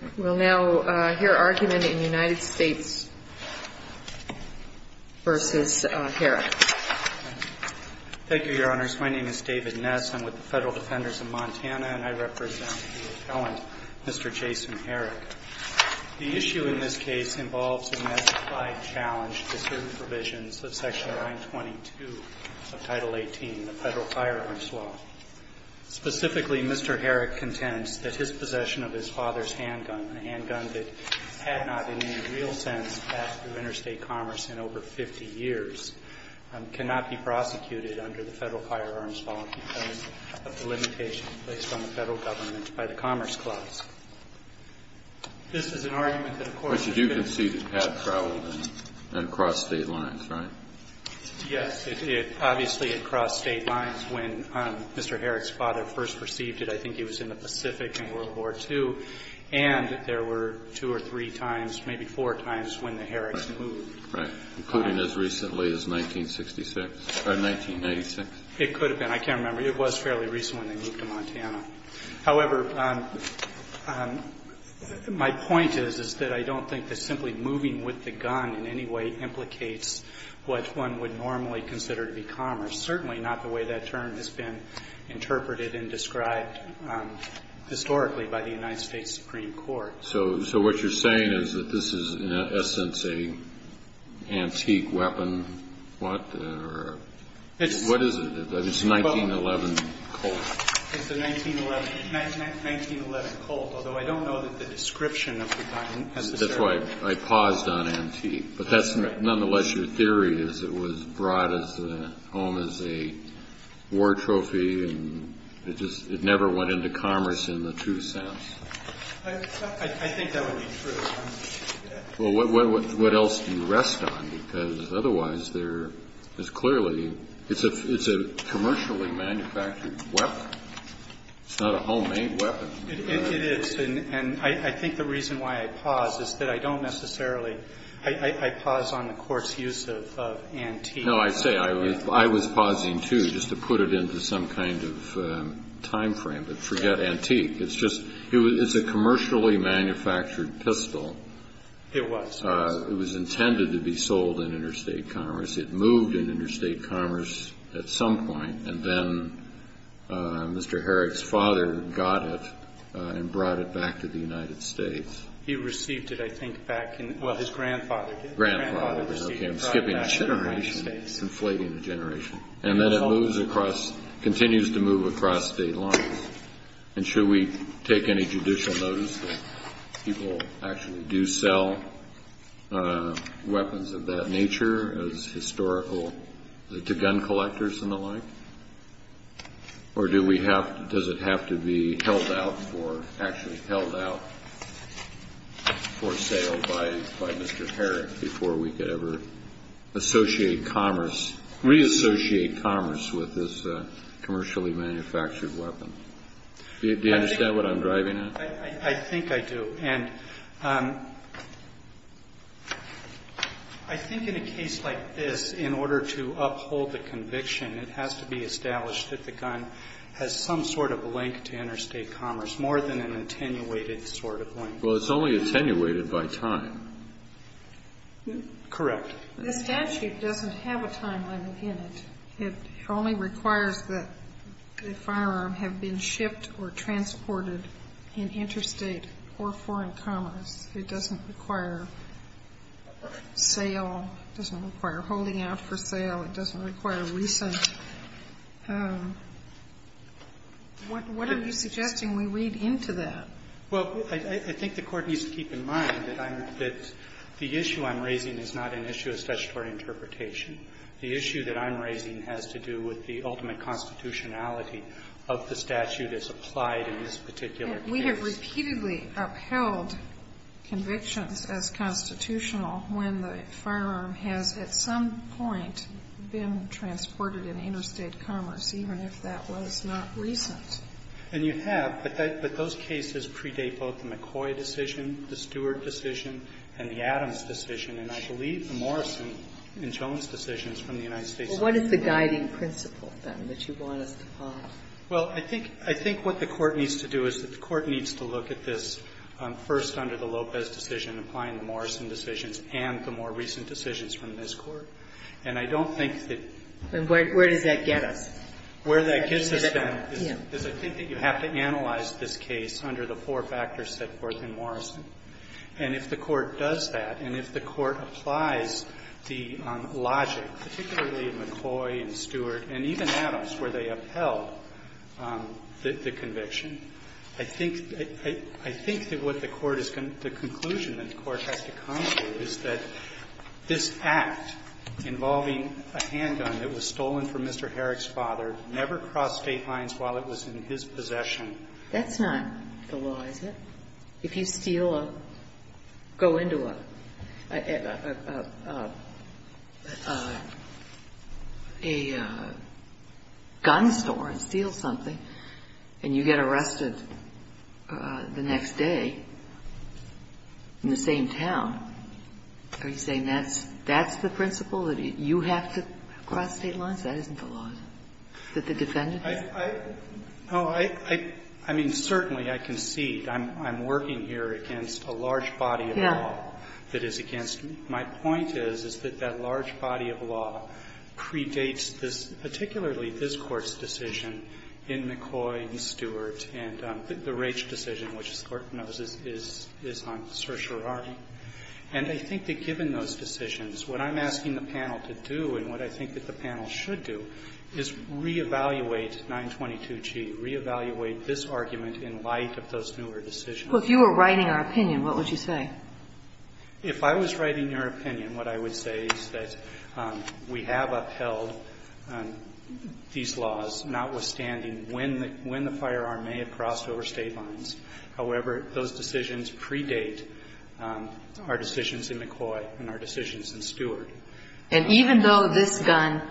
Thank you, Your Honors. My name is David Ness. I'm with the Federal Defenders of Montana, and I represent the appellant, Mr. Jason Herrick. The issue in this case involves a specified challenge to certain provisions of Section 922 of Title 18, the Federal Firearms Law. Specifically, Mr. Herrick contends that his possession of his father's handgun, a handgun that had not in any real sense passed through interstate commerce in over 50 years, cannot be prosecuted under the Federal Firearms Law because of the limitations placed on the Federal Government by the Commerce Clause. This is an argument that, of course, the Federal Firearms Law does not apply. But you do concede it had traveled and crossed state lines, right? Yes, it obviously had crossed state lines when Mr. Herrick's father first received it. I think he was in the Pacific in World War II. And there were two or three times, maybe four times, when the Herricks moved. Right. Including as recently as 1966 or 1996. It could have been. I can't remember. It was fairly recent when they moved to Montana. However, my point is, is that I don't think that simply moving with the gun in any way implicates what one would normally consider to be commerce. Certainly not the way that term has been interpreted and described historically by the United States Supreme Court. So what you're saying is that this is, in essence, an antique weapon? What? What is it? It's a 1911 Colt. It's a 1911 Colt, although I don't know that the description of the gun has a certain meaning. That's why I paused on antique. But that's nonetheless your theory, is it was brought as a home, as a war trophy. And it just never went into commerce in the true sense. I think that would be true. Well, what else do you rest on? Because otherwise there is clearly, it's a commercially manufactured weapon. It's not a homemade weapon. It is. And I think the reason why I paused is that I don't necessarily, I paused on the court's use of antique. No, I say I was pausing, too, just to put it into some kind of time frame. But forget antique. It's just, it's a commercially manufactured pistol. It was. It was intended to be sold in interstate commerce. It moved in interstate commerce at some point. And then Mr. Herrick's father got it and brought it back to the United States. He received it, I think, back in, well, his grandfather did. Grandfather received it. Okay, I'm skipping a generation. Inflating a generation. And then it moves across, continues to move across state lines. And should we take any judicial notice that people actually do sell weapons of that nature as historical to gun collectors and the like? Or do we have, does it have to be held out for, actually held out for sale by Mr. Herrick before we could ever associate commerce, reassociate commerce with this commercially manufactured weapon? Do you understand what I'm driving at? I think I do. And I think in a case like this, in order to uphold the conviction, it has to be established that the gun has some sort of link to interstate commerce, more than an attenuated sort of link. Well, it's only attenuated by time. Correct. The statute doesn't have a timeline in it. It only requires that the firearm have been shipped or transported in interstate or foreign commerce. It doesn't require sale. It doesn't require holding out for sale. It doesn't require recent. What are you suggesting we read into that? Well, I think the Court needs to keep in mind that I'm, that the issue I'm raising is not an issue of statutory interpretation. The issue that I'm raising has to do with the ultimate constitutionality of the statute as applied in this particular case. We have repeatedly upheld convictions as constitutional when the firearm has at some point been transported in interstate commerce, even if that was not recent. And you have. But those cases predate both the McCoy decision, the Stewart decision, and the Adams decision. And I believe the Morrison and Jones decisions from the United States Supreme Court. Well, what is the guiding principle, then, that you want us to follow? Well, I think, I think what the Court needs to do is that the Court needs to look at this first under the Lopez decision, applying the Morrison decisions and the more recent decisions from this Court. And I don't think that. And where does that get us? Where that gets us, then, is I think that you have to analyze this case under the four factors set forth in Morrison. And if the Court does that, and if the Court applies the logic, particularly in McCoy and Stewart and even Adams, where they upheld the conviction, I think that what the Court is going to the conclusion that the Court has to come to is that this act involving a handgun that was stolen from Mr. Herrick's father never crossed State lines while it was in his possession. That's not the law, is it? If you steal, go into a gun store and steal something and you get arrested the next day in the same town, are you saying that's the principle, that you have to cross State lines? That isn't the law, is it? That the defendant has to cross State lines? Oh, I mean, certainly, I concede. I'm working here against a large body of law that is against me. My point is, is that that large body of law predates this, particularly this Court's decision in McCoy and Stewart and the Raich decision, which this Court knows is on certiorari. And I think that given those decisions, what I'm asking the panel to do and what I think that the panel should do is reevaluate 922G, reevaluate this argument in light of those newer decisions. Well, if you were writing our opinion, what would you say? If I was writing your opinion, what I would say is that we have upheld these laws, notwithstanding when the firearm may have crossed over State lines. However, those decisions predate our decisions in McCoy and our decisions in Stewart. And even though this gun,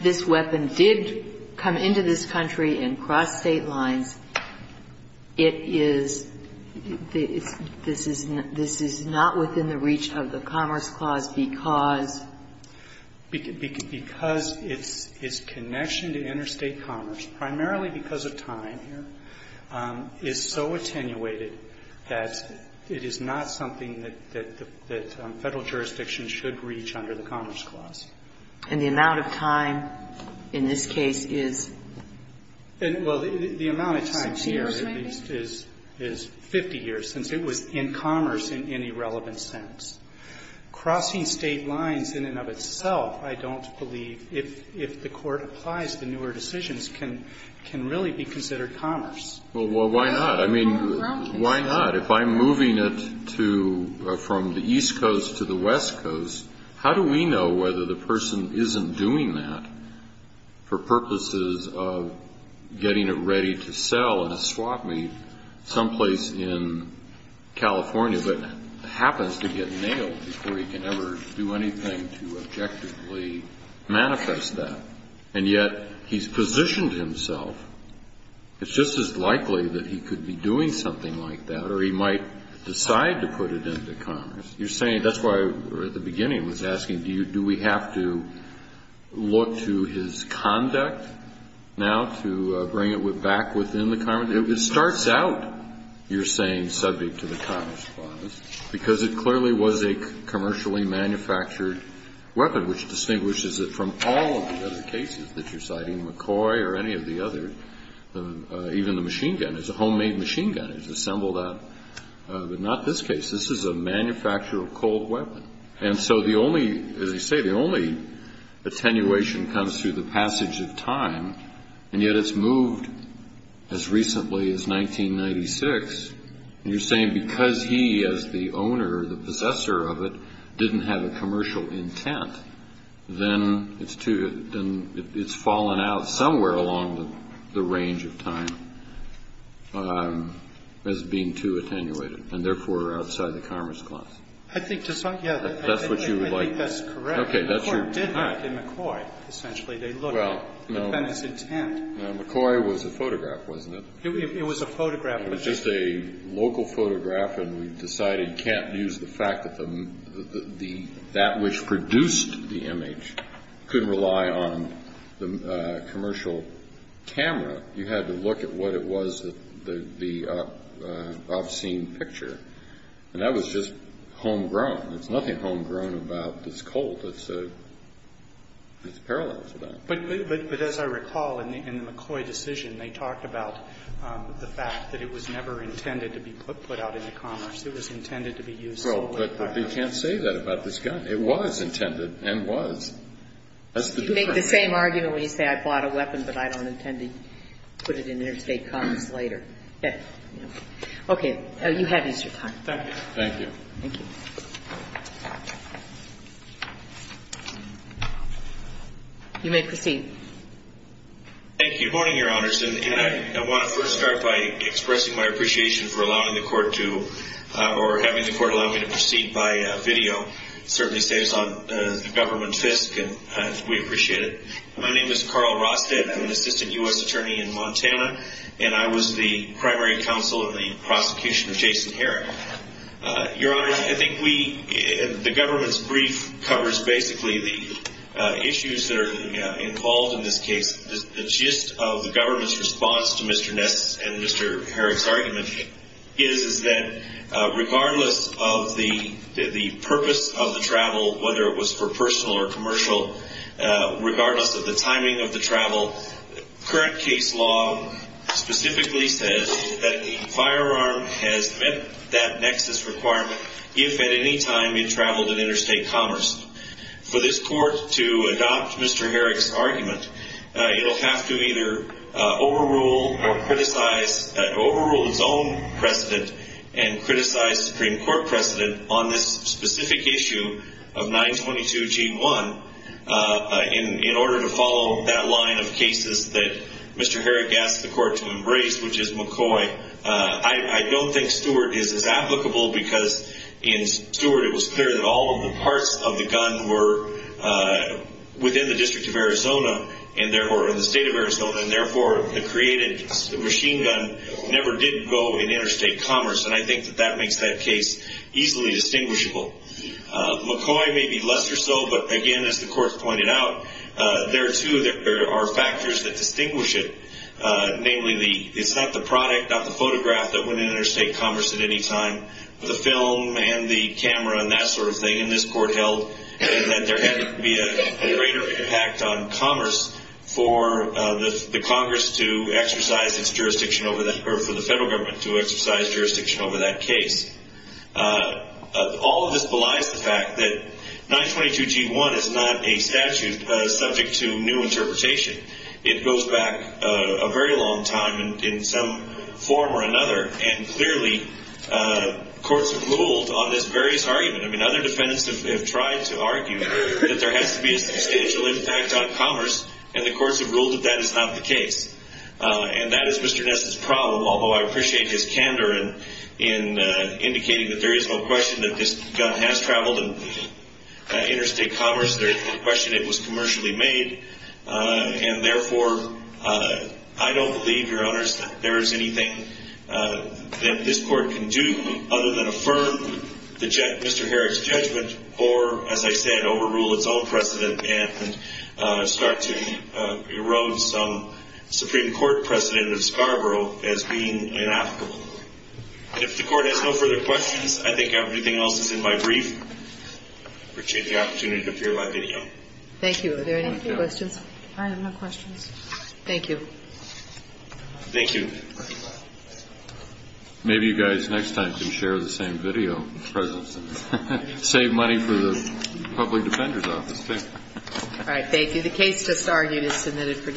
this weapon did come into this country and cross State lines, it is, this is not within the reach of the Commerce Clause because? Because its connection to interstate commerce, primarily because of time, is so attenuated that it is not something that Federal jurisdiction should reach under the Commerce Clause. And the amount of time in this case is? Well, the amount of time here, at least, is 50 years, since it was in commerce in any relevant sense. Crossing State lines in and of itself, I don't believe, if the Court applies the newer decisions, can really be considered commerce. Well, why not? I mean, why not? If I'm moving it to, from the East Coast to the West Coast, how do we know whether the person isn't doing that for purposes of getting it ready to sell in a swap meet someplace in California, but happens to get nailed before he can ever do anything to objectively manifest that? And yet, he's positioned himself, it's just as likely that he could be doing something like that, or he might decide to put it into commerce. You're saying, that's why at the beginning I was asking, do we have to look to his conduct now to bring it back within the commerce? It starts out, you're saying, subject to the Commerce Clause, because it clearly was a commercially manufactured weapon, which distinguishes it from all of the other cases that you're citing, McCoy or any of the other, even the machine gun. It's a homemade machine gun. It's assembled out, but not this case. This is a manufactured cold weapon. And so the only, as you say, the only attenuation comes through the passage of time, and yet it's moved as recently as 1996. And you're saying because he, as the owner, the possessor of it, didn't have a commercial intent, then it's too, then it's fallen out somewhere along the range of time as being too attenuated, and therefore outside the Commerce Clause. I think, yeah. That's what you would like. I think that's correct. Okay. McCoy did that in McCoy, essentially. They looked at Bennett's intent. McCoy was a photograph, wasn't it? It was a photograph. It was just a local photograph, and we decided you can't use the fact that the, that which produced the image couldn't rely on the commercial camera. You had to look at what it was, the obscene picture. And that was just homegrown. There's nothing homegrown about this cold. It's a, it's parallel to that. But as I recall, in the McCoy decision, they talked about the fact that it was never intended to be put out into commerce. It was intended to be used solely for commercial purposes. Well, but they can't say that about this gun. It was intended and was. That's the difference. You make the same argument when you say I bought a weapon, but I don't intend to put it in interstate commerce later. Okay. You have used your time. Thank you. Thank you. Thank you. You may proceed. Thank you. Good morning, Your Honors. And I, I want to first start by expressing my appreciation for allowing the court to, or having the court allow me to proceed by video. It certainly saves on the government fisc, and we appreciate it. My name is Carl Rosted. I'm an assistant U.S. attorney in Montana, and I was the primary counsel in the prosecution I'm not a lawyer. I'm not a lawyer. I'm not a lawyer. I'm not a lawyer. I'm not a lawyer. I think we, the government's brief covers basically the issues that are involved in this case. The gist of the government's response to Mr. Ness and Mr. Herrick's argument is, is that regardless of the, the purpose of the travel, whether it was for personal or commercial, regardless of the timing of the travel, current case law specifically says that a firearm has met that nexus requirement if at any time it traveled in interstate commerce. For this court to adopt Mr. Herrick's argument, it'll have to either overrule or criticize, overrule its own precedent and criticize Supreme Court precedent on this specific issue of 922G1 in, in order to follow that line of cases that Mr. Herrick asked the court to embrace, which is McCoy. I, I don't think Stewart is as applicable because in Stewart it was clear that all of the parts of the gun were within the district of Arizona and therefore, or in the state of Arizona, and therefore the created machine gun never did go in interstate commerce. And I think that that makes that case easily distinguishable. McCoy may be lesser so, but again, as the court pointed out, there are two, there are factors that distinguish it. Namely the, it's not the product, not the photograph that went in interstate commerce at any time. The film and the camera and that sort of thing in this court held that there had to be a greater impact on commerce for the Congress to exercise its jurisdiction over that, or for the federal government to exercise jurisdiction over that case. All of this belies the fact that 922G1 is not a statute subject to new interpretation. It goes back a very long time in some form or another and clearly courts have ruled on this various argument. I mean, other defendants have tried to argue that there has to be a substantial impact on commerce and the courts have ruled that that is not the case. And that is Mr. Ness' problem, although I appreciate his candor in indicating that there is no question that this gun has traveled in interstate commerce. There is no question it was commercially made and therefore I don't believe, Your Honors, that there is anything that this court can do other than affirm Mr. Herrick's judgment or, as I said, overrule its own precedent and start to erode some Supreme Court precedent of Scarborough as being inapplicable. And if the court has no further questions, I think everything else is in my brief. Thank you. I appreciate the opportunity to appear in my video. Thank you. Are there any questions? I have no questions. Thank you. Thank you. Maybe you guys next time can share the same video. Save money for the public defender's office. All right. Thank you. The case just argued is submitted for discussion.